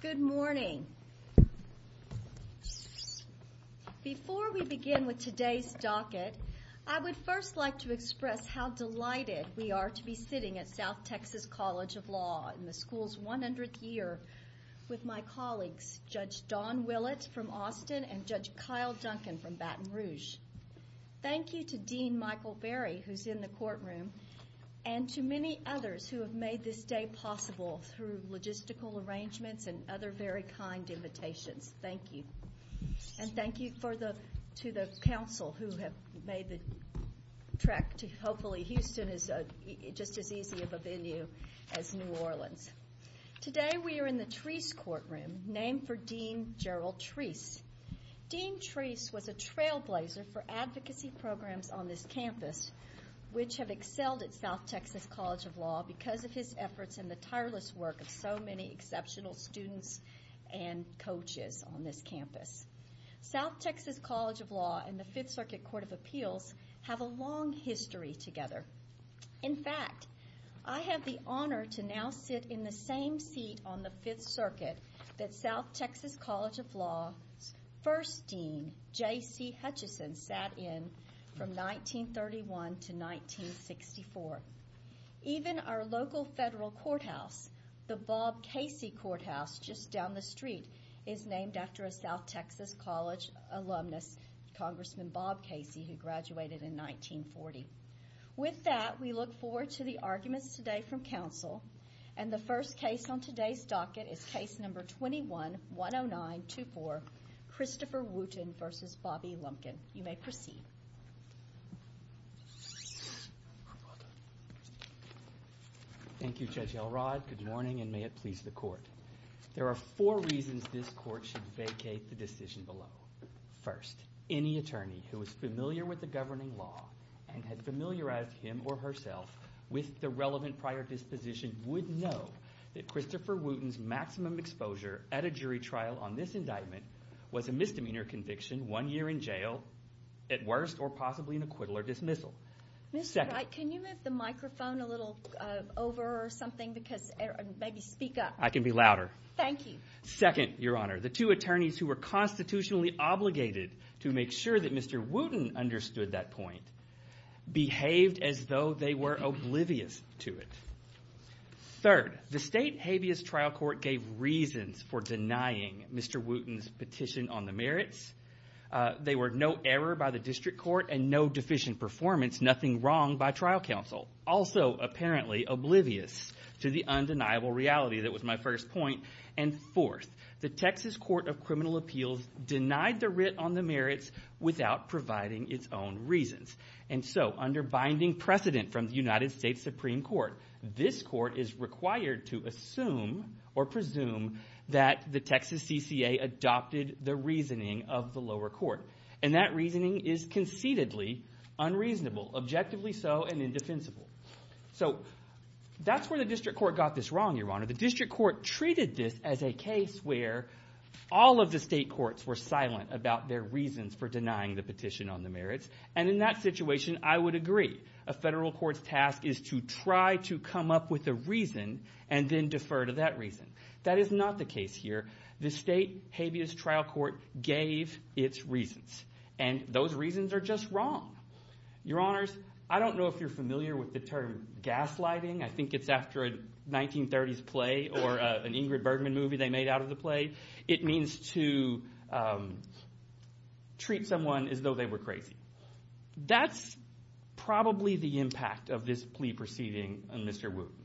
Good morning. Before we begin with today's docket, I would first like to express how delighted we are to be sitting at South Texas College of Law in the school's 100th year with my colleagues, Judge Don Willett from Austin and Judge Kyle Duncan from Baton Rouge. Thank you to Dean Michael Berry, who's in the courtroom, and to many others who have made this day possible through logistical arrangements and other very kind invitations. Thank you. And thank you to the council who have made the trek to hopefully Houston is just as easy of a venue as New Orleans. Today we are in the Treese courtroom, named for Dean Gerald Treese. Dean Treese was a trailblazer for advocacy programs on this campus, which have excelled at South Texas College of Law because of his efforts and the tireless work of so many exceptional students and coaches on this campus. South Texas College of Law and the Fifth Circuit Court of Appeals have a long history together. In fact, I have the honor to now sit in the same seat on the Fifth Circuit that South Texas College of Law's first dean, J.C. Hutchison, sat in from 1931 to 1964. Even our local federal courthouse, the Bob Casey Courthouse just down the street, is named after a South Texas College alumnus, Congressman Bob Casey, who graduated in 1940. With that, we look forward to the arguments today from council, and the first case on today's docket is case number 21-10924, Christopher Wooten v. Bobby Lumpkin. You may proceed. Thank you, Judge Elrod. Good morning, and may it please the court. There are four reasons this court should vacate the decision below. First, any attorney who is familiar with the governing law and has familiarized him or herself with the relevant prior disposition would know that Christopher Wooten's maximum exposure at a jury trial on this indictment was a misdemeanor conviction, one year in jail, at worst, or possibly an acquittal or dismissal. Mr. Wright, can you move the microphone a little over or something, because maybe speak up. I can be louder. Thank you. Second, Your Honor, the two attorneys who were constitutionally obligated to make sure that that point behaved as though they were oblivious to it. Third, the state habeas trial court gave reasons for denying Mr. Wooten's petition on the merits. They were no error by the district court and no deficient performance, nothing wrong by trial counsel, also apparently oblivious to the undeniable reality that was my first point. And fourth, the Texas Court of Criminal Reasons. And so under binding precedent from the United States Supreme Court, this court is required to assume or presume that the Texas CCA adopted the reasoning of the lower court. And that reasoning is conceitedly unreasonable, objectively so, and indefensible. So that's where the district court got this wrong, Your Honor. The district court treated this as a case where all of the state courts were silent about their reasons for denying the petition on the merits. And in that situation, I would agree. A federal court's task is to try to come up with a reason and then defer to that reason. That is not the case here. The state habeas trial court gave its reasons. And those reasons are just wrong. Your Honors, I don't know if you're familiar with the term gaslighting. I think it's after a 1930s play or an Ingrid Bergman movie they made out of the play. It means to treat someone as though they were crazy. That's probably the impact of this plea proceeding on Mr. Wooten.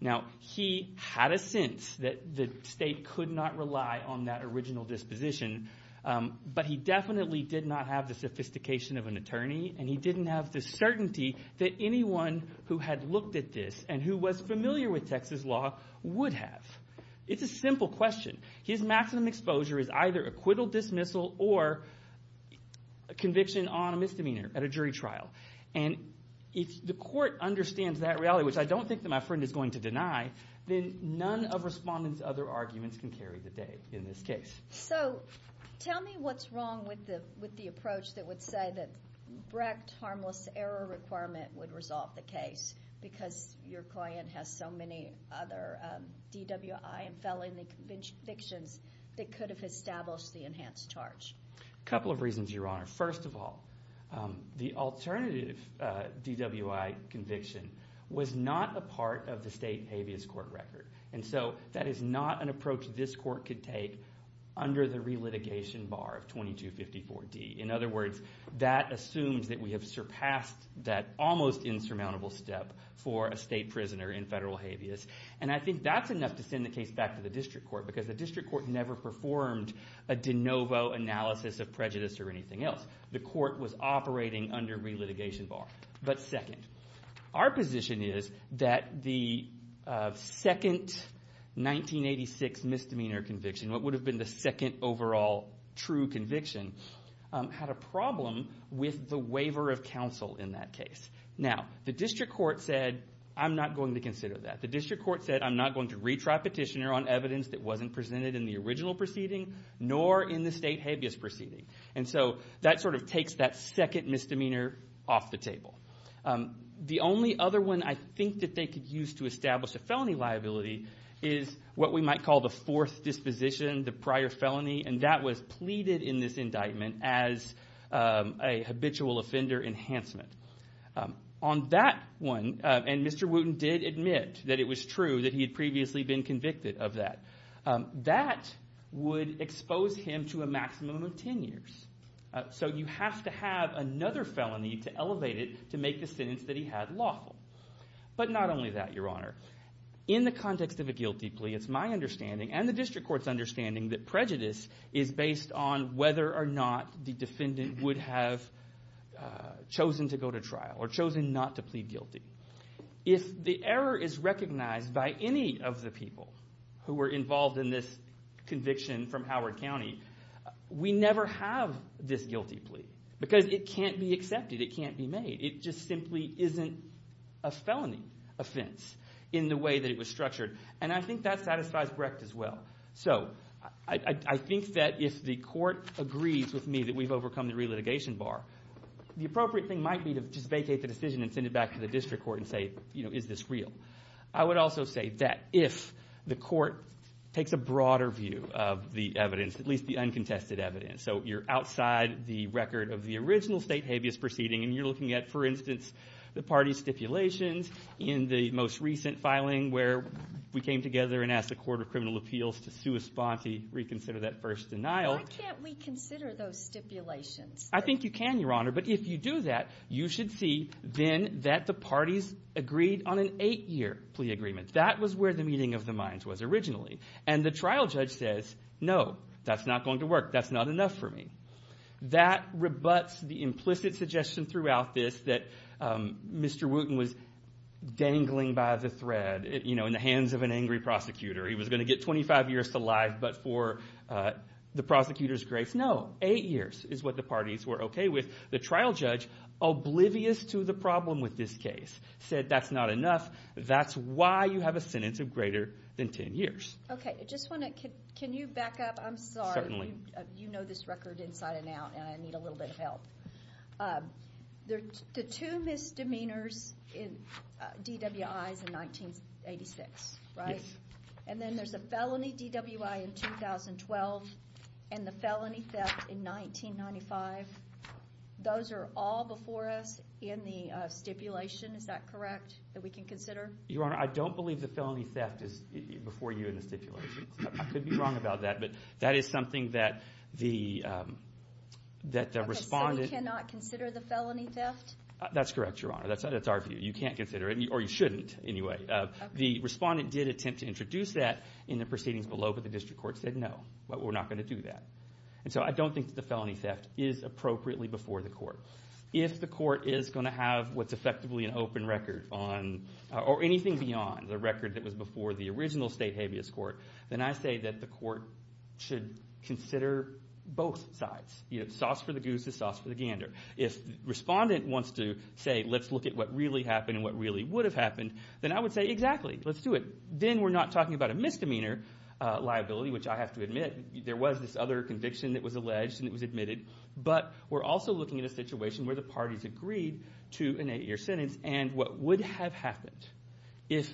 Now, he had a sense that the state could not rely on that original disposition. But he definitely did not have the sophistication of an attorney. And he didn't have the certainty that anyone who had looked at this and who was familiar with Texas law would have. It's a simple question. His maximum exposure is either acquittal, dismissal, or conviction on a misdemeanor at a jury trial. And if the court understands that reality, which I don't think that my friend is going to deny, then none of Respondent's other arguments can carry the day in this case. So tell me what's wrong with the approach that would say that Brecht harmless error requirement would resolve the case because your client has so many other DWI and felony convictions that could have established the enhanced charge? A couple of reasons, Your Honor. First of all, the alternative DWI conviction was not a part of the state habeas court record. And so that is not an approach this court could take under the relitigation bar of 2254D. In other words, that assumes that we have surpassed that almost insurmountable step for a state prisoner in federal habeas. And I think that's enough to send the case back to the district court because the district court never performed a de novo analysis of prejudice or anything else. The court was operating under relitigation bar. But second, our position is that the second 1986 misdemeanor conviction, what would have been the second overall true conviction, had a problem with the waiver of counsel in that case. Now, the district court said, I'm not going to consider that. The district court said, I'm not going to retry petitioner on evidence that wasn't presented in the original proceeding nor in the state habeas proceeding. And so that sort of takes that second misdemeanor off the table. The only other one I think that they could use to establish a felony liability is what we might call the fourth disposition, the prior felony. And that was pleaded in this indictment as a habitual offender enhancement. On that one, and Mr. Wooten did admit that it was true that he had previously been convicted of that, that would expose him to a maximum of 10 years. So you have to have another felony to elevate it to make the sentence that he had lawful. But not only that, Your Honor. In the context of a guilty plea, it's my understanding and the district court's understanding that prejudice is based on whether or not the defendant would have chosen to go to trial or chosen not to plead guilty. If the error is recognized by any of the people who were involved in this conviction from Howard County, we never have this guilty plea because it can't be accepted. It can't be made. It just simply isn't a felony offense in the way that it was structured. And I think that satisfies Brecht as well. So I think that if the court agrees with me that we've overcome the relitigation bar, the appropriate thing might be to just vacate the decision and send it back to the district court and say, is this real? I would also say that if the court takes a broader view of the evidence, at least the uncontested evidence, so you're outside the record of the original state habeas proceeding and you're looking at, for instance, the party stipulations in the most recent filing where we came together and asked the Court of Criminal Appeals to sue Esponti, reconsider that first denial. Why can't we consider those stipulations? I think you can, Your Honor. But if you do that, you should see then that the parties agreed on an eight-year plea agreement. That was where the meeting of the minds was originally. And the trial judge says, no, that's not going to work. That's not enough for me. That rebuts the implicit suggestion throughout this that Mr. Wooten was dangling by the thread, you know, in the hands of an angry prosecutor. He was going to get 25 years to life, but for the prosecutor's grace, no, eight years is what the parties were okay with. The trial judge, oblivious to the problem with this case, said that's not enough. That's why you have a sentence of greater than 10 years. Okay. I just want to – can you back up? I'm sorry. Certainly. You know this record inside and out, and I need a little bit of help. The two misdemeanors in DWI is in 1986, right? Yes. And then there's a felony DWI in 2012 and the felony theft in 1995. Those are all before us in the stipulation, is that correct, that we can consider? Your Honor, I don't believe the felony theft is before you in the stipulation. I could be wrong about that, but that is something that the respondent – Okay, so we cannot consider the felony theft? That's correct, Your Honor. That's our view. You can't consider it, or you shouldn't anyway. The respondent did attempt to introduce that in the proceedings below, but the district court said no, we're not going to do that. And so I don't think that the felony theft is appropriately before the court. If the court is going to have what's effectively an open record on – or anything beyond the record that was before the original state habeas court, then I say that the court should consider both sides. Sauce for the goose is sauce for the gander. If the respondent wants to say let's look at what really happened and what really would have happened, then I would say exactly, let's do it. Then we're not talking about a misdemeanor liability, which I have to admit, there was this other conviction that was alleged and it was admitted, but we're also looking at a situation where the parties agreed to an eight-year sentence, and what would have happened if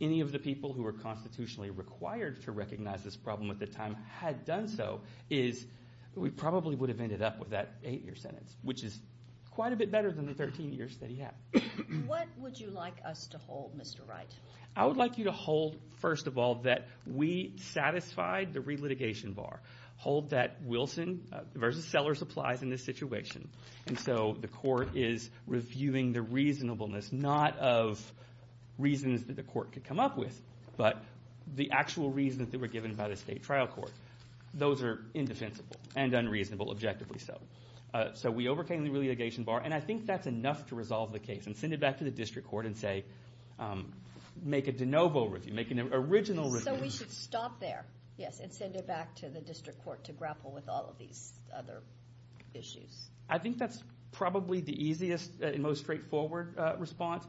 any of the people who were constitutionally required to recognize this problem at the time had done so is we probably would have ended up with that eight-year sentence, which is quite a bit better than the 13 years that he had. What would you like us to hold, Mr. Wright? I would like you to hold, first of all, that we satisfied the re-litigation bar, hold that Wilson versus Sellers applies in this situation, and so the court is reviewing the reasonableness not of reasons that the court could come up with, but the actual reasons that were given by the state trial court. Those are indefensible and unreasonable, objectively so. So we overcame the re-litigation bar, and I think that's enough to resolve the case and send it back to the district court and, say, make a de novo review, make an original review. So we should stop there, yes, and send it back to the district court to grapple with all of these other issues. I think that's probably the easiest and most straightforward response.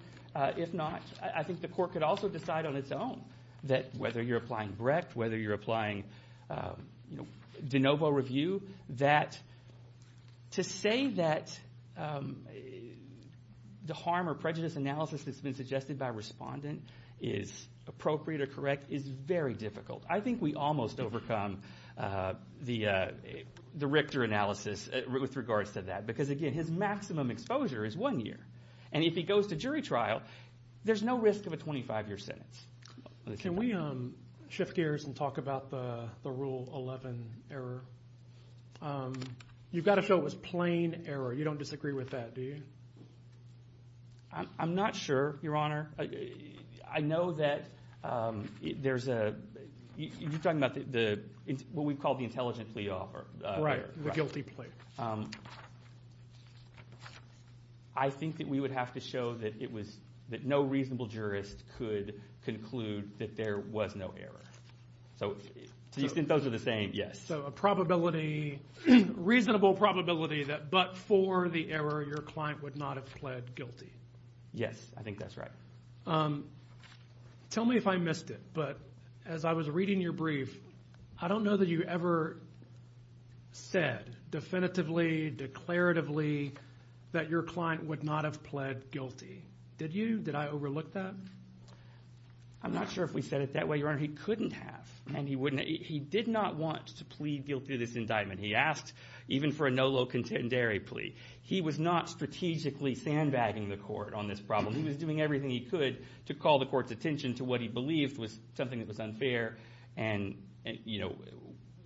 If not, I think the court could also decide on its own that whether you're applying Brecht, whether you're applying de novo review, that to say that the harm or prejudice analysis that's been suggested by a respondent is appropriate or correct is very difficult. I think we almost overcome the Richter analysis with regards to that because, again, his maximum exposure is one year, and if he goes to jury trial, there's no risk of a 25-year sentence. Can we shift gears and talk about the Rule 11 error? You've got to show it was plain error. You don't disagree with that, do you? I'm not sure, Your Honor. I know that there's a – you're talking about what we call the intelligent plea offer. Right, the guilty plea. I think that we would have to show that it was – that no reasonable jurist could conclude that there was no error. So do you think those are the same? Yes. So a probability – reasonable probability that but for the error, your client would not have pled guilty. Yes, I think that's right. Tell me if I missed it, but as I was reading your brief, I don't know that you ever said definitively, declaratively, that your client would not have pled guilty. Did you? Did I overlook that? I'm not sure if we said it that way, Your Honor. He couldn't have, and he wouldn't – he did not want to plead guilty to this indictment. He asked even for a no low contendere plea. He was not strategically sandbagging the court on this problem. He was doing everything he could to call the court's attention to what he believed was something that was unfair and, you know,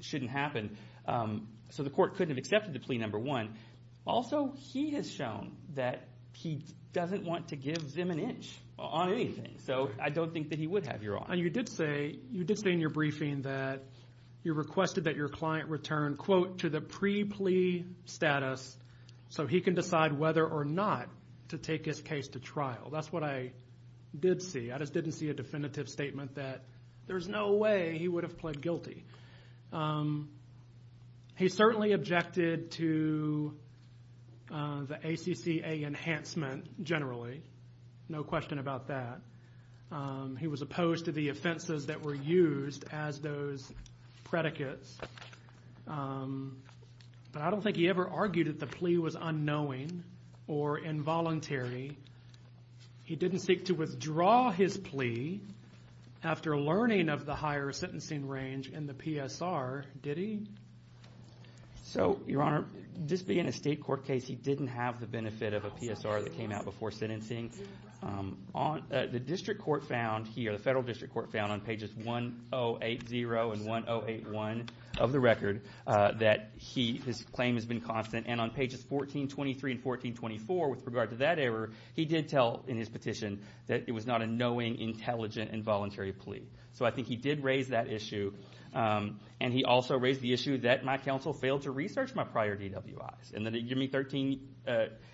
shouldn't happen. So the court couldn't have accepted the plea number one. Also, he has shown that he doesn't want to give Zim an inch on anything. So I don't think that he would have, Your Honor. You did say in your briefing that you requested that your client return, quote, to the pre-plea status so he can decide whether or not to take his case to trial. That's what I did see. I just didn't see a definitive statement that there's no way he would have pled guilty. He certainly objected to the ACCA enhancement generally, no question about that. He was opposed to the offenses that were used as those predicates. But I don't think he ever argued that the plea was unknowing or involuntary. He didn't seek to withdraw his plea after learning of the higher sentencing range in the PSR, did he? So, Your Honor, this being a state court case, he didn't have the benefit of a PSR that came out before sentencing. The district court found here, the federal district court found on pages 108-0 and 108-1 of the record, that his claim has been constant. And on pages 1423 and 1424, with regard to that error, he did tell in his petition that it was not a knowing, intelligent, involuntary plea. So I think he did raise that issue. And he also raised the issue that my counsel failed to research my prior DWIs, and that it would give me 13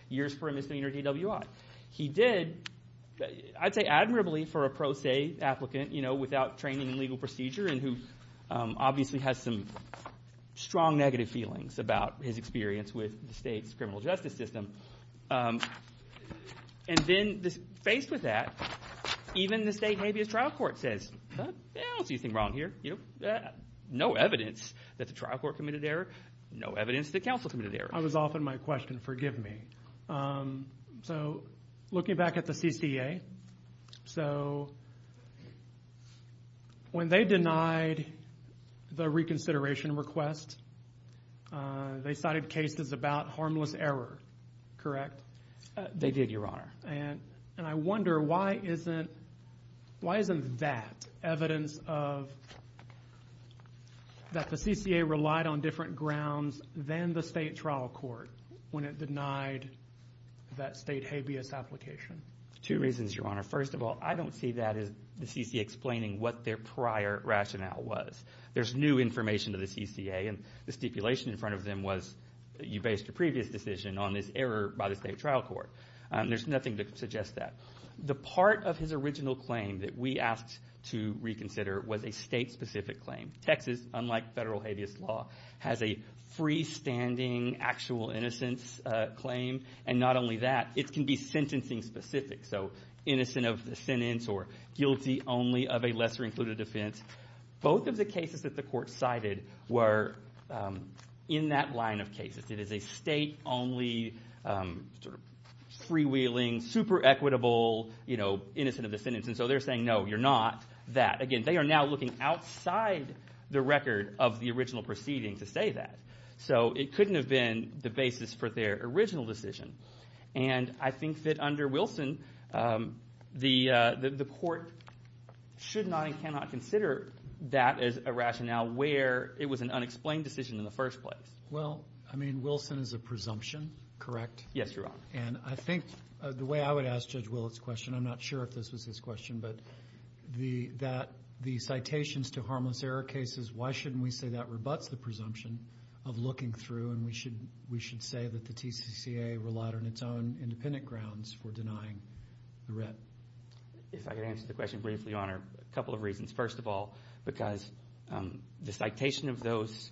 years for a misdemeanor DWI. He did, I'd say admirably for a pro se applicant without training in legal procedure and who obviously has some strong negative feelings about his experience with the state's criminal justice system. And then faced with that, even the state habeas trial court says, I don't see anything wrong here. No evidence that the trial court committed error. No evidence that counsel committed error. I was off on my question. Forgive me. So looking back at the CCA, so when they denied the reconsideration request, they cited cases about harmless error, correct? They did, Your Honor. And I wonder why isn't that evidence of that the CCA relied on different grounds than the state trial court when it denied that state habeas application? Two reasons, Your Honor. First of all, I don't see that as the CCA explaining what their prior rationale was. There's new information to the CCA, and the stipulation in front of them was you based your previous decision on this error by the state trial court. There's nothing to suggest that. The part of his original claim that we asked to reconsider was a state-specific claim. Texas, unlike federal habeas law, has a freestanding actual innocence claim, and not only that, it can be sentencing-specific, so innocent of the sentence or guilty only of a lesser-included offense. Both of the cases that the court cited were in that line of cases. It is a state-only sort of freewheeling, super equitable, you know, innocent of the sentence. And so they're saying, no, you're not that. Again, they are now looking outside the record of the original proceeding to say that. So it couldn't have been the basis for their original decision. And I think that under Wilson, the court should not and cannot consider that as a rationale where it was an unexplained decision in the first place. Well, I mean, Wilson is a presumption, correct? Yes, Your Honor. And I think the way I would ask Judge Willett's question, I'm not sure if this was his question, but the citations to harmless error cases, why shouldn't we say that rebuts the presumption of looking through and we should say that the TCCA relied on its own independent grounds for denying the writ? If I could answer the question briefly, Your Honor, a couple of reasons. First of all, because the citation of those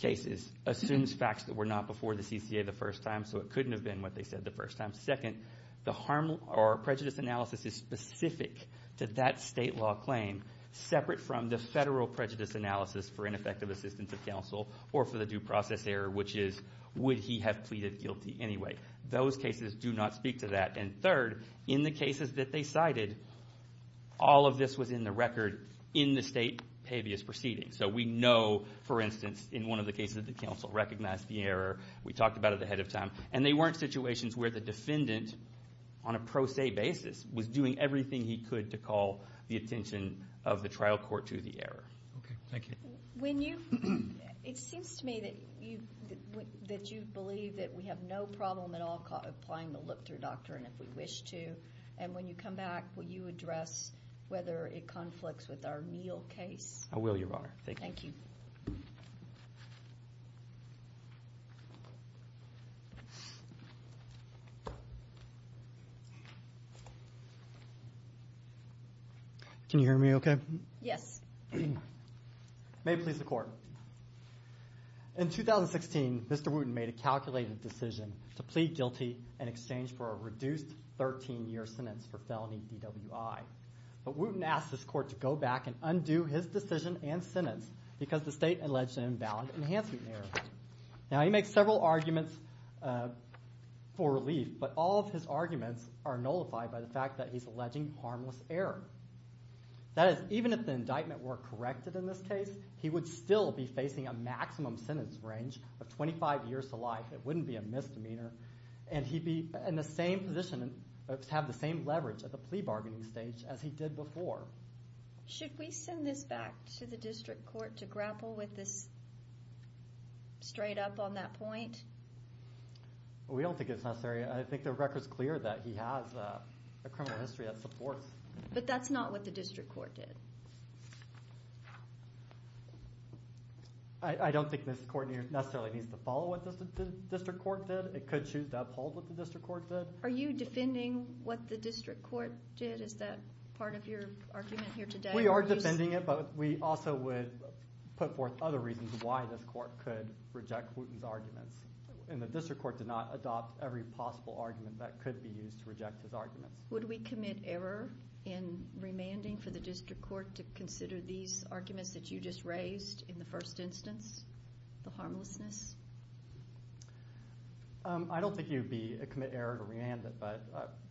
cases assumes facts that were not before the CCA the first time, so it couldn't have been what they said the first time. Second, the harm or prejudice analysis is specific to that state law claim, separate from the federal prejudice analysis for ineffective assistance of counsel or for the due process error, which is would he have pleaded guilty anyway. Those cases do not speak to that. And third, in the cases that they cited, all of this was in the record in the state habeas proceeding. So we know, for instance, in one of the cases that the counsel recognized the error. We talked about it ahead of time. And they weren't situations where the defendant, on a pro se basis, was doing everything he could to call the attention of the trial court to the error. Okay. Thank you. It seems to me that you believe that we have no problem at all applying the look-through doctrine if we wish to. And when you come back, will you address whether it conflicts with our Neal case? I will, Your Honor. Thank you. Thank you. Thank you. Can you hear me okay? Yes. May it please the Court. In 2016, Mr. Wooten made a calculated decision to plead guilty in exchange for a reduced 13-year sentence for felony DWI. But Wooten asked his court to go back and undo his decision and sentence because the state alleged an invalid enhancement error. Now, he makes several arguments for relief, but all of his arguments are nullified by the fact that he's alleging harmless error. That is, even if the indictment were corrected in this case, he would still be facing a maximum sentence range of 25 years to life. It wouldn't be a misdemeanor. And he'd be in the same position to have the same leverage at the plea bargaining stage as he did before. Should we send this back to the district court to grapple with this straight up on that point? We don't think it's necessary. I think the record's clear that he has a criminal history that supports. But that's not what the district court did. I don't think this court necessarily needs to follow what the district court did. It could choose to uphold what the district court did. Are you defending what the district court did? Is that part of your argument here today? We are defending it, but we also would put forth other reasons why this court could reject Wooten's arguments. And the district court did not adopt every possible argument that could be used to reject his arguments. Would we commit error in remanding for the district court to consider these arguments that you just raised in the first instance, the harmlessness? I don't think you would commit error to remand it, but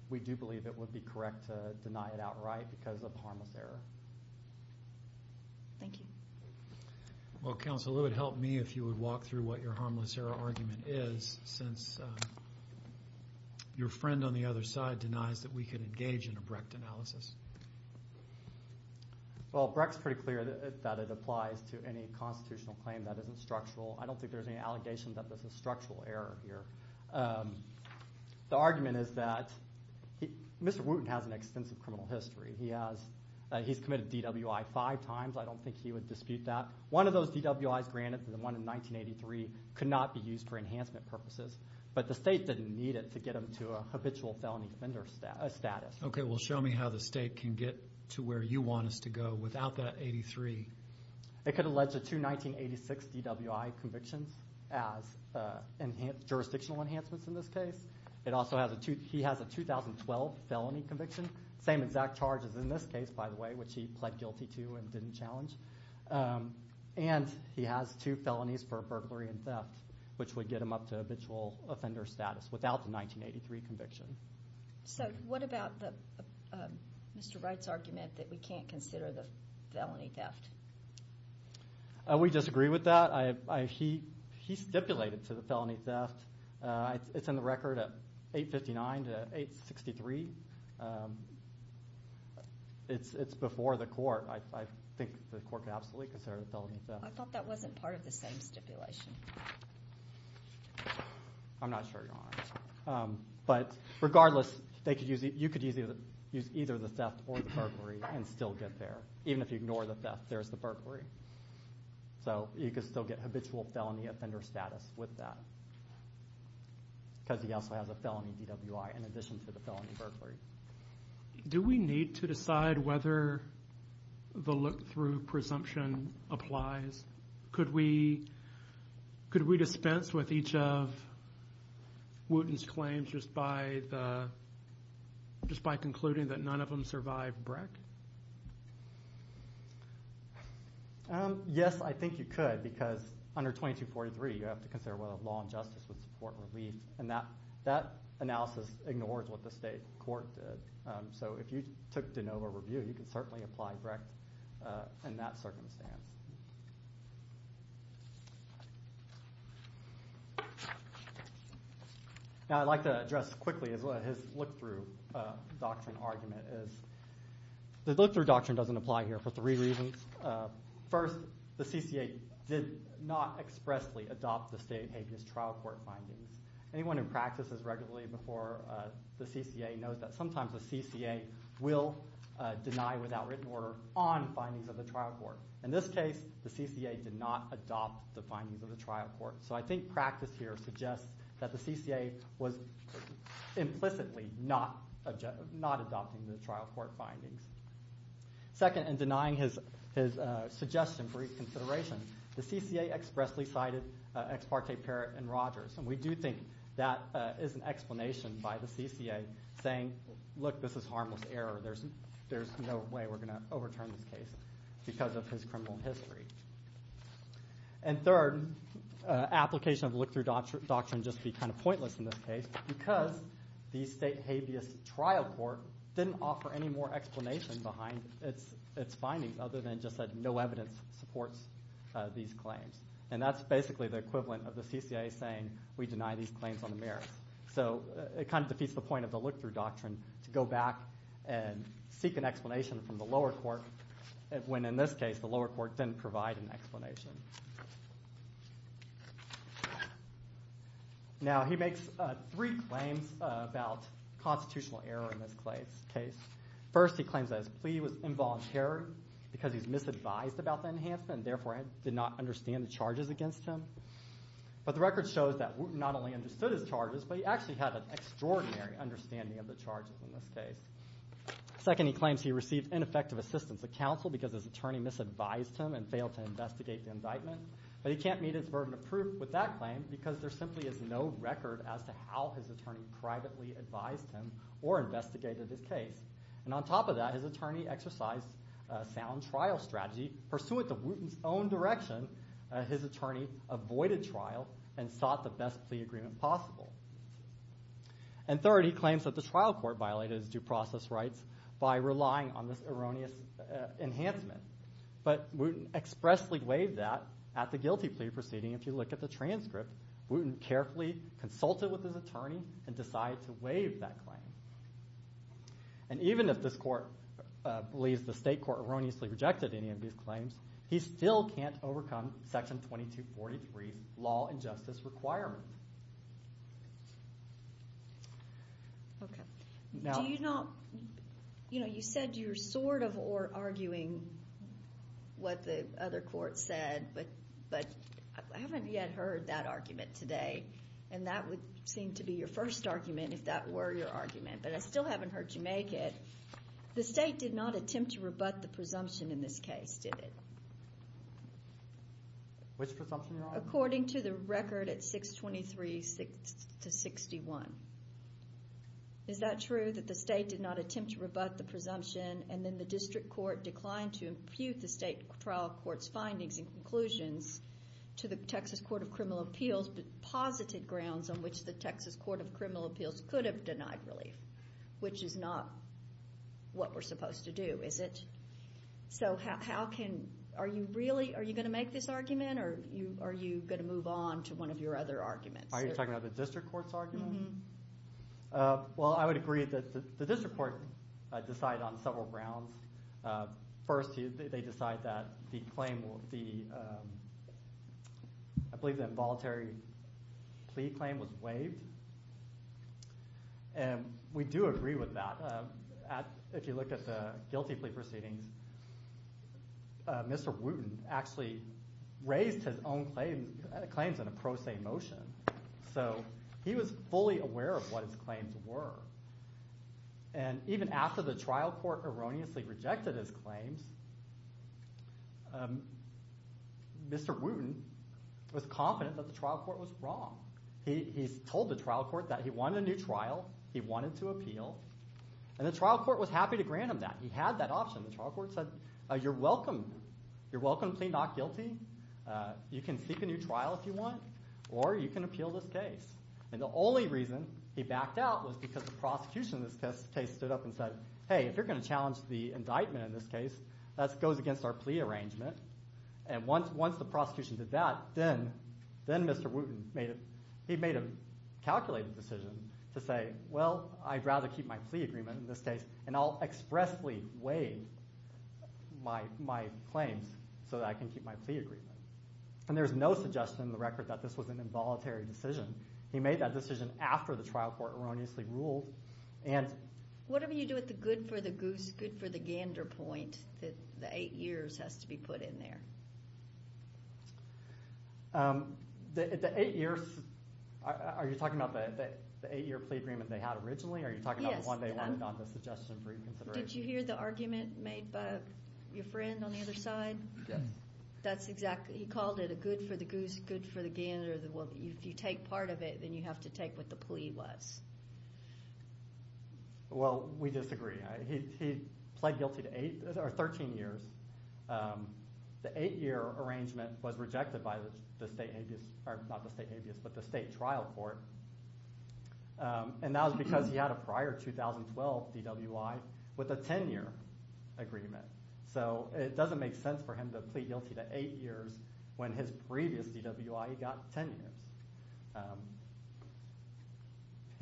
we do believe it would be correct to deny it outright because of harmless error. Thank you. Well, counsel, it would help me if you would walk through what your harmless error argument is, since your friend on the other side denies that we could engage in a Brecht analysis. Well, Brecht's pretty clear that it applies to any constitutional claim that isn't structural. I don't think there's any allegation that this is structural error here. The argument is that Mr. Wooten has an extensive criminal history. He's committed DWI five times. I don't think he would dispute that. One of those DWIs granted, the one in 1983, could not be used for enhancement purposes, but the state didn't need it to get him to a habitual felony offender status. Okay. Well, show me how the state can get to where you want us to go without that 83. It could allege the two 1986 DWI convictions as jurisdictional enhancements in this case. It also has a 2012 felony conviction, same exact charge as in this case, by the way, which he pled guilty to and didn't challenge. And he has two felonies for burglary and theft, which would get him up to habitual offender status without the 1983 conviction. So what about Mr. Wright's argument that we can't consider the felony theft? We disagree with that. He stipulated to the felony theft. It's in the record at 859 to 863. It's before the court. I think the court could absolutely consider the felony theft. I thought that wasn't part of the same stipulation. I'm not sure, Your Honor. But regardless, you could use either the theft or the burglary and still get there. Even if you ignore the theft, there's the burglary. So you could still get habitual felony offender status with that because he also has a felony DWI in addition to the felony burglary. Do we need to decide whether the look-through presumption applies? Could we dispense with each of Wooten's claims just by concluding that none of them survived BREC? Yes, I think you could because under 2243, you have to consider whether law and justice would support relief, and that analysis ignores what the state court did. So if you took de novo review, you could certainly apply BREC in that circumstance. Now I'd like to address quickly his look-through doctrine argument. The look-through doctrine doesn't apply here for three reasons. First, the CCA did not expressly adopt the state habeas trial court findings. Anyone who practices regularly before the CCA knows that sometimes the CCA will deny without written order on findings of the trial court. In this case, the CCA did not adopt the findings of the trial court. So I think practice here suggests that the CCA was implicitly not adopting the trial court findings. Second, in denying his suggestion for reconsideration, the CCA expressly cited Ex parte Parrott and Rogers. And we do think that is an explanation by the CCA saying, look, this is harmless error. There's no way we're going to overturn this case because of his criminal history. And third, application of look-through doctrine would just be kind of pointless in this case because the state habeas trial court didn't offer any more explanation behind its findings other than just that no evidence supports these claims. And that's basically the equivalent of the CCA saying, we deny these claims on the merits. So it kind of defeats the point of the look-through doctrine to go back and seek an explanation from the lower court when, in this case, the lower court didn't provide an explanation. Now he makes three claims about constitutional error in this case. First, he claims that his plea was involuntary because he's misadvised about the enhancement and therefore did not understand the charges against him. But the record shows that Wooten not only understood his charges, but he actually had an extraordinary understanding of the charges in this case. Second, he claims he received ineffective assistance of counsel because his attorney misadvised him and failed to investigate the indictment. But he can't meet his burden of proof with that claim because there simply is no record as to how his attorney privately advised him or investigated his case. And on top of that, his attorney exercised a sound trial strategy. Pursuant to Wooten's own direction, his attorney avoided trial and sought the best plea agreement possible. And third, he claims that the trial court violated his due process rights by relying on this erroneous enhancement. But Wooten expressly waived that at the guilty plea proceeding. If you look at the transcript, Wooten carefully consulted with his attorney and decided to waive that claim. And even if this court believes the state court erroneously rejected any of these claims, he still can't overcome Section 2243's law and justice requirements. Okay. Do you not, you know, you said you're sort of arguing what the other court said, but I haven't yet heard that argument today. And that would seem to be your first argument if that were your argument. But I still haven't heard you make it. The state did not attempt to rebut the presumption in this case, did it? Which presumption, Your Honor? According to the record at 623 to 61. Is that true, that the state did not attempt to rebut the presumption and then the district court declined to impute the state trial court's findings and conclusions to the Texas Court of Criminal Appeals but posited grounds on which the Texas Court of Criminal Appeals could have denied relief, which is not what we're supposed to do, is it? So how can, are you really, are you going to make this argument or are you going to move on to one of your other arguments? Are you talking about the district court's argument? Well, I would agree that the district court decided on several grounds. First, they decided that the claim, I believe the involuntary plea claim was waived. And we do agree with that. If you look at the guilty plea proceedings, Mr. Wooten actually raised his own claims in a pro se motion. So he was fully aware of what his claims were. And even after the trial court erroneously rejected his claims, Mr. Wooten was confident that the trial court was wrong. He told the trial court that he wanted a new trial. He wanted to appeal. And the trial court was happy to grant him that. He had that option. The trial court said, you're welcome. You're welcome to plead not guilty. You can seek a new trial if you want or you can appeal this case. And the only reason he backed out was because the prosecution in this case stood up and said, hey, if you're going to challenge the indictment in this case, that goes against our plea arrangement. And once the prosecution did that, then Mr. Wooten made a calculated decision to say, well, I'd rather keep my plea agreement in this case, and I'll expressly waive my claims so that I can keep my plea agreement. And there's no suggestion in the record that this was an involuntary decision. He made that decision after the trial court erroneously ruled. Whatever you do with the good for the goose, good for the gander point, the eight years has to be put in there. The eight years, are you talking about the eight-year plea agreement they had originally? Yes. Or are you talking about the one they wanted on the suggestion for reconsideration? Did you hear the argument made by your friend on the other side? Yes. He called it a good for the goose, good for the gander. If you take part of it, then you have to take what the plea was. Well, we disagree. He pled guilty to 13 years. The eight-year arrangement was rejected by the state trial court, and that was because he had a prior 2012 DWI with a 10-year agreement. So it doesn't make sense for him to plead guilty to eight years when his previous DWI got 10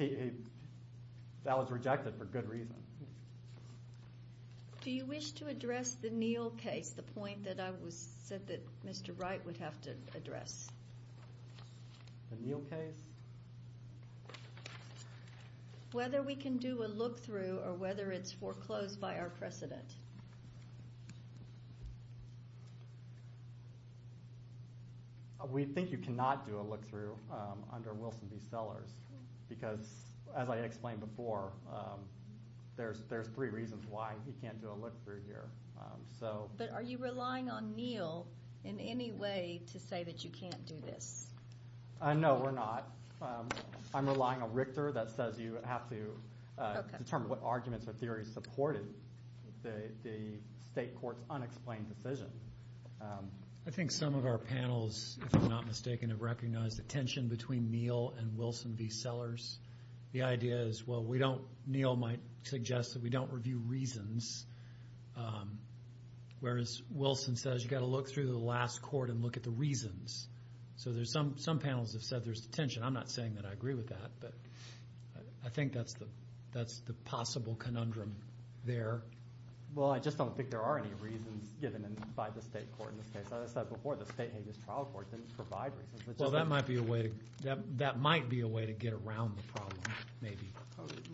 years. That was rejected for good reason. Do you wish to address the Neal case, the point that I said that Mr. Wright would have to address? The Neal case? Yes. Whether we can do a look-through or whether it's foreclosed by our precedent? We think you cannot do a look-through under Wilson v. Sellers because, as I explained before, there's three reasons why he can't do a look-through here. But are you relying on Neal in any way to say that you can't do this? No, we're not. I'm relying on Richter that says you have to determine what arguments or theories supported the state court's unexplained decision. I think some of our panels, if I'm not mistaken, have recognized the tension between Neal and Wilson v. Sellers. The idea is, well, Neal might suggest that we don't review reasons, whereas Wilson says you've got to look through the last court and look at the reasons. So some panels have said there's tension. I'm not saying that I agree with that, but I think that's the possible conundrum there. Well, I just don't think there are any reasons given by the state court in this case. As I said before, the state habeas trial court didn't provide reasons. Well, that might be a way to get around the problem maybe.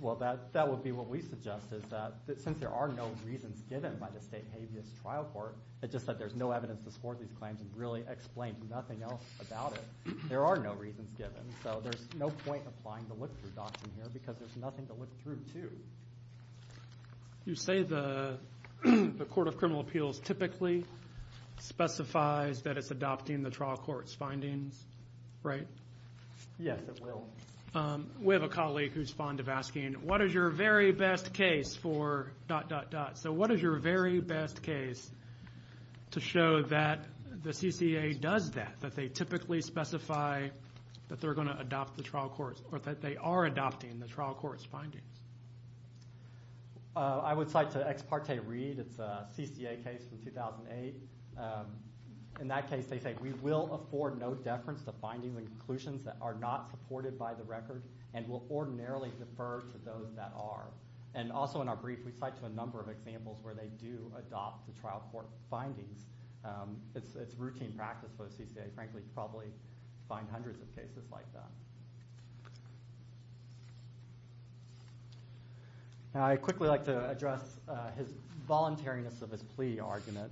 Well, that would be what we suggest is that since there are no reasons given by the state habeas trial court, it's just that there's no evidence to support these claims and really explain nothing else about it. There are no reasons given, so there's no point applying the look-through doctrine here because there's nothing to look through, too. You say the Court of Criminal Appeals typically specifies that it's adopting the trial court's findings, right? Yes, it will. We have a colleague who's fond of asking, what is your very best case for… So what is your very best case to show that the CCA does that, that they typically specify that they're going to adopt the trial court's or that they are adopting the trial court's findings? I would cite to Ex Parte Reid. It's a CCA case from 2008. In that case, they say we will afford no deference to findings and conclusions that are not supported by the record and will ordinarily defer to those that are. And also in our brief, we cite to a number of examples where they do adopt the trial court findings. It's routine practice for the CCA. Frankly, you probably find hundreds of cases like that. Now I'd quickly like to address his voluntariness of his plea argument.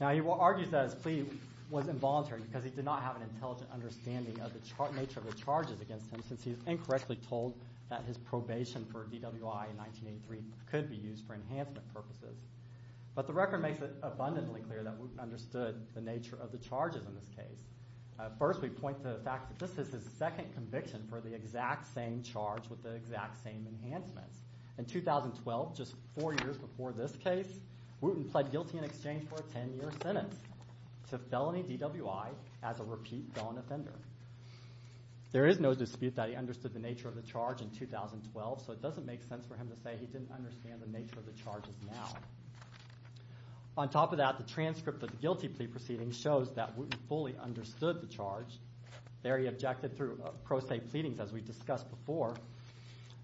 Now he argues that his plea was involuntary because he did not have an intelligent understanding of the nature of the charges against him since he was incorrectly told that his probation for DWI in 1983 could be used for enhancement purposes. But the record makes it abundantly clear that Wooten understood the nature of the charges in this case. First, we point to the fact that this is his second conviction for the exact same charge with the exact same enhancements. In 2012, just four years before this case, Wooten pled guilty in exchange for a ten-year sentence to felony DWI as a repeat felon offender. There is no dispute that he understood the nature of the charge in 2012, so it doesn't make sense for him to say he didn't understand the nature of the charges now. On top of that, the transcript of the guilty plea proceedings shows that Wooten fully understood the charge. There he objected through pro se pleadings, as we discussed before,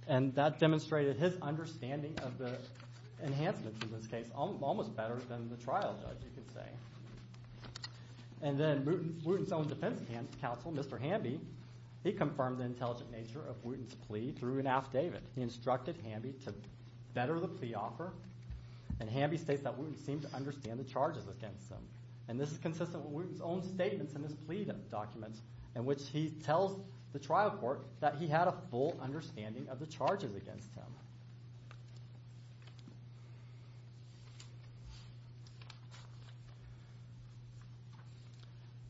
and that demonstrated his understanding of the enhancements in this case almost better than the trial judge, you could say. And then Wooten's own defense counsel, Mr. Hamby, he confirmed the intelligent nature of Wooten's plea through an affidavit. He instructed Hamby to better the plea offer, and Hamby states that Wooten seemed to understand the charges against him. And this is consistent with Wooten's own statements in his plea documents, in which he tells the trial court that he had a full understanding of the charges against him.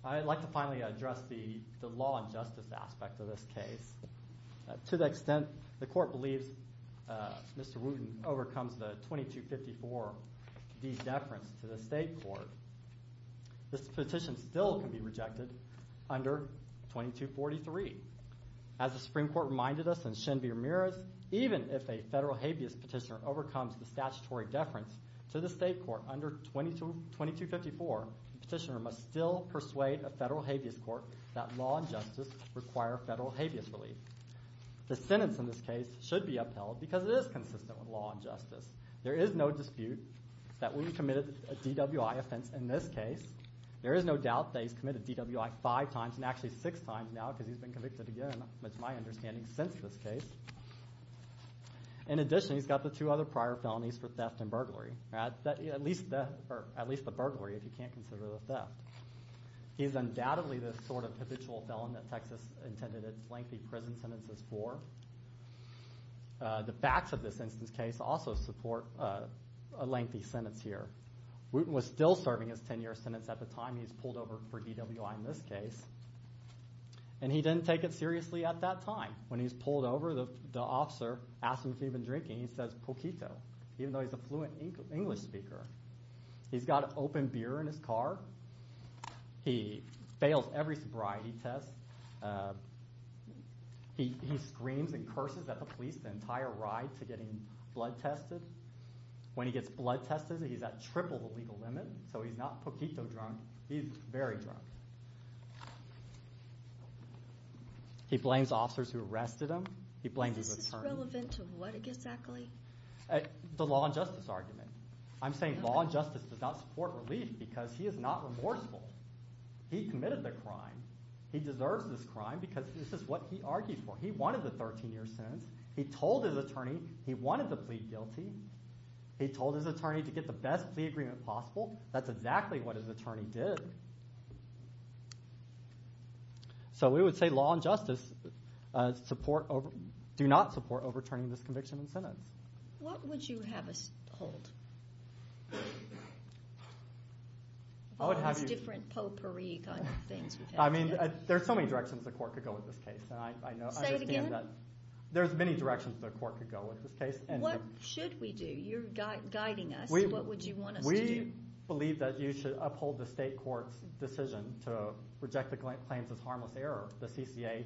I'd like to finally address the law and justice aspect of this case. To the extent the court believes Mr. Wooten overcomes the 2254-D deference to the state court, this petition still can be rejected under 2243. As the Supreme Court reminded us in Shinveer Meera's, even if a federal habeas petitioner overcomes the statutory deference to the state court under 2254, the petitioner must still persuade a federal habeas court that law and justice require federal habeas relief. The sentence in this case should be upheld because it is consistent with law and justice. There is no dispute that Wooten committed a DWI offense in this case. There is no doubt that he's committed DWI five times, and actually six times now, because he's been convicted again, it's my understanding, since this case. In addition, he's got the two other prior felonies for theft and burglary. At least the burglary, if you can't consider the theft. He's undoubtedly the sort of habitual felon that Texas intended its lengthy prison sentences for. The facts of this instance case also support a lengthy sentence here. Wooten was still serving his 10-year sentence at the time he was pulled over for DWI in this case, and he didn't take it seriously at that time. When he was pulled over, the officer asked him if he'd been drinking, and he says, poquito, even though he's a fluent English speaker. He's got open beer in his car. He fails every sobriety test. He screams and curses at the police the entire ride to getting blood tested. When he gets blood tested, he's at triple the legal limit, so he's not poquito drunk. He's very drunk. He blames officers who arrested him. He blames his attorney. This is relevant to what exactly? The law and justice argument. I'm saying law and justice does not support relief because he is not remorseful. He committed the crime. He deserves this crime because this is what he argued for. He wanted the 13-year sentence. He told his attorney he wanted the plea guilty. He told his attorney to get the best plea agreement possible. That's exactly what his attorney did. So we would say law and justice do not support overturning this conviction and sentence. What would you have us hold? Different potpourri kind of things. There are so many directions the court could go with this case. Say it again. There are so many directions the court could go with this case. What should we do? You're guiding us. What would you want us to do? We believe that you should uphold the state court's decision to reject the claims as harmless error. The CCA,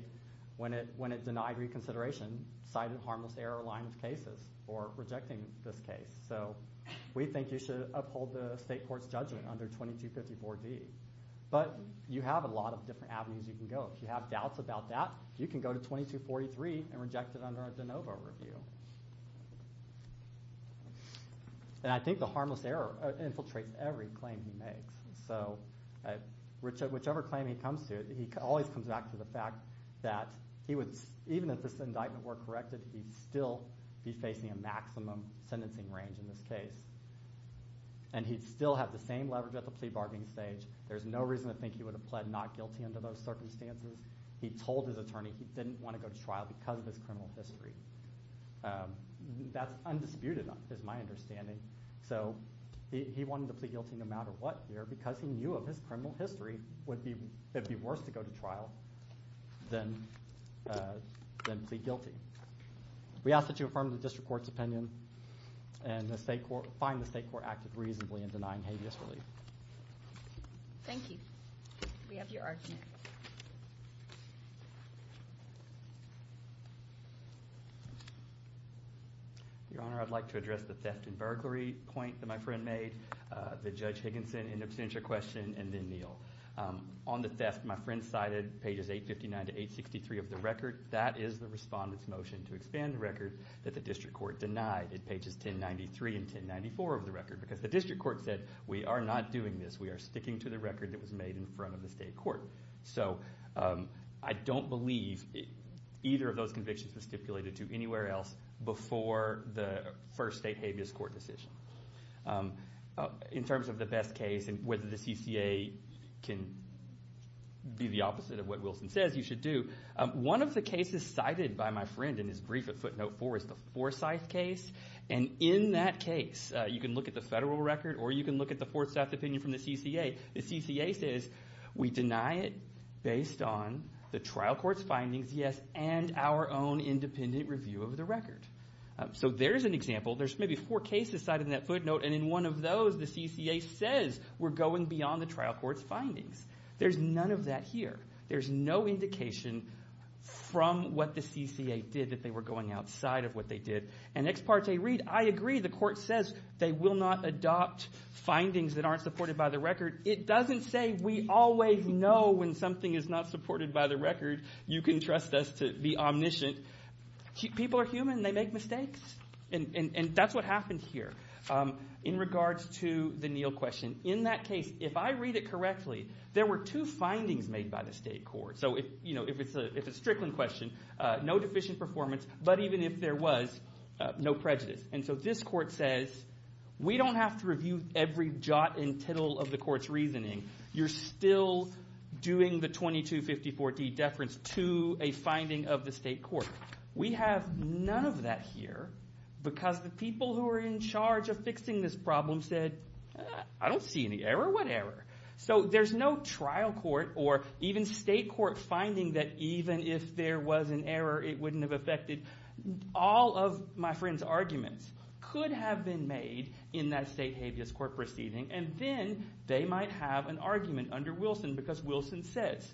when it denied reconsideration, cited harmless error-aligned cases for rejecting this case. So we think you should uphold the state court's judgment under 2254D. But you have a lot of different avenues you can go. If you have doubts about that, you can go to 2243 and reject it under a de novo review. I think the harmless error infiltrates every claim he makes. Whichever claim he comes to, he always comes back to the fact that even if this indictment were corrected, he'd still be facing a maximum sentencing range in this case. And he'd still have the same leverage at the plea bargaining stage. There's no reason to think he would have pled not guilty under those circumstances. He told his attorney he didn't want to go to trial because of his criminal history. That's undisputed, is my understanding. So he wanted to plead guilty no matter what here because he knew of his criminal history. It would be worse to go to trial than plead guilty. We ask that you affirm the district court's opinion and find the state court active reasonably in denying habeas relief. Thank you. We have your argument. Your Honor, I'd like to address the theft and burglary point that my friend made, the Judge Higginson in absentia question, and then Neal. On the theft, my friend cited pages 859 to 863 of the record. That is the respondent's motion to expand the record that the district court denied. It pages 1093 and 1094 of the record because the district court said we are not doing this. We are sticking to the record that was made in front of the state court. So I don't believe either of those convictions was stipulated to anywhere else before the first state habeas court decision. In terms of the best case and whether the CCA can be the opposite of what Wilson says you should do, one of the cases cited by my friend in his brief at footnote four is the Forsyth case. And in that case, you can look at the federal record or you can look at the fourth theft opinion from the CCA. The CCA says we deny it based on the trial court's findings, yes, and our own independent review of the record. So there's an example. There's maybe four cases cited in that footnote. And in one of those, the CCA says we're going beyond the trial court's findings. There's none of that here. There's no indication from what the CCA did that they were going outside of what they did. And ex parte read, I agree. The court says they will not adopt findings that aren't supported by the record. It doesn't say we always know when something is not supported by the record. You can trust us to be omniscient. People are human. They make mistakes. And that's what happened here in regards to the Neal question. In that case, if I read it correctly, there were two findings made by the state court. So if it's a Strickland question, no deficient performance, but even if there was, no prejudice. And so this court says we don't have to review every jot and tittle of the court's reasoning. You're still doing the 2254D deference to a finding of the state court. We have none of that here because the people who are in charge of fixing this problem said, I don't see any error. What error? So there's no trial court or even state court finding that even if there was an error, it wouldn't have affected. All of my friend's arguments could have been made in that state habeas court proceeding. And then they might have an argument under Wilson because Wilson says,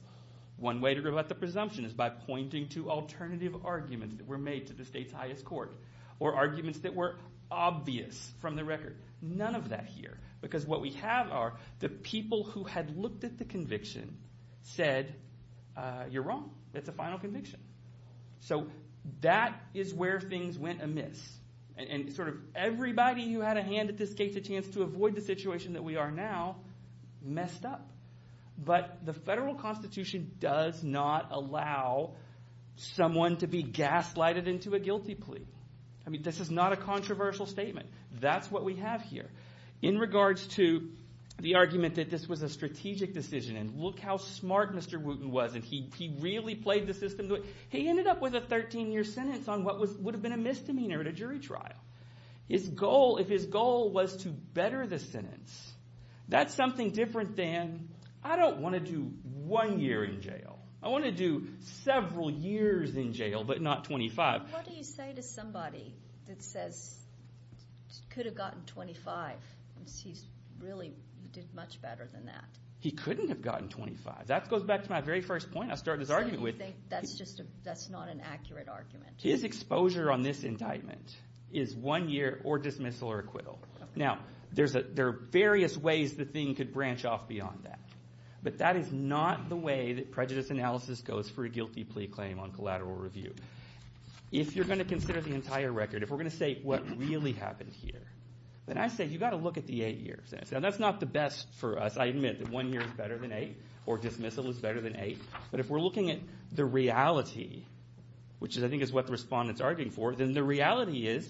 one way to go about the presumption is by pointing to alternative arguments that were made to the state's highest court or arguments that were obvious from the record. None of that here because what we have are the people who had looked at the conviction said, you're wrong. It's a final conviction. So that is where things went amiss and sort of everybody who had a hand at this case, a chance to avoid the situation that we are now, messed up. But the federal constitution does not allow someone to be gaslighted into a guilty plea. I mean this is not a controversial statement. That's what we have here. In regards to the argument that this was a strategic decision and look how smart Mr. Wooten was and he really played the system to it. He ended up with a 13-year sentence on what would have been a misdemeanor at a jury trial. His goal, if his goal was to better the sentence, that's something different than, I don't want to do one year in jail. I want to do several years in jail but not 25. What do you say to somebody that says, could have gotten 25. He really did much better than that. He couldn't have gotten 25. That goes back to my very first point I started this argument with. That's not an accurate argument. His exposure on this indictment is one year or dismissal or acquittal. Now there are various ways the thing could branch off beyond that. But that is not the way that prejudice analysis goes for a guilty plea claim on collateral review. If you're going to consider the entire record, if we're going to say what really happened here, then I say you've got to look at the eight years. Now that's not the best for us. I admit that one year is better than eight or dismissal is better than eight. But if we're looking at the reality, which I think is what the respondent is arguing for, then the reality is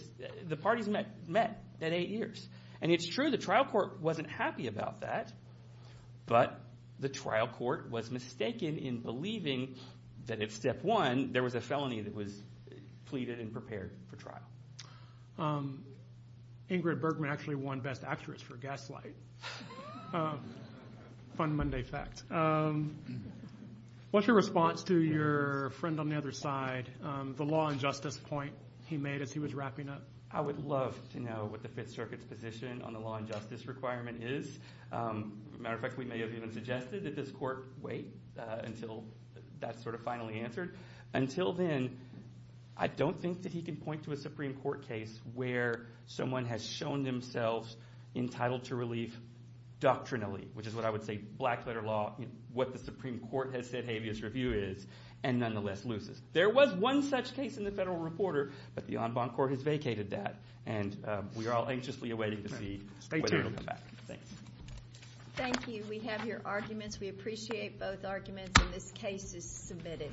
the parties met at eight years. And it's true the trial court wasn't happy about that. But the trial court was mistaken in believing that if Step 1, there was a felony that was pleaded and prepared for trial. Ingrid Bergman actually won best actress for Gaslight. Fun Monday fact. What's your response to your friend on the other side, the law and justice point he made as he was wrapping up? I would love to know what the Fifth Circuit's position on the law and justice requirement is. Matter of fact, we may have even suggested that this court wait until that's sort of finally answered. Until then, I don't think that he can point to a Supreme Court case where someone has shown themselves entitled to relief doctrinally, which is what I would say black letter law, what the Supreme Court has said habeas review is, and nonetheless loses. There was one such case in the Federal Reporter, but the en banc court has vacated that. And we are all anxiously awaiting to see whether it will come back. Thanks. Thank you. We have your arguments. We appreciate both arguments, and this case is submitted.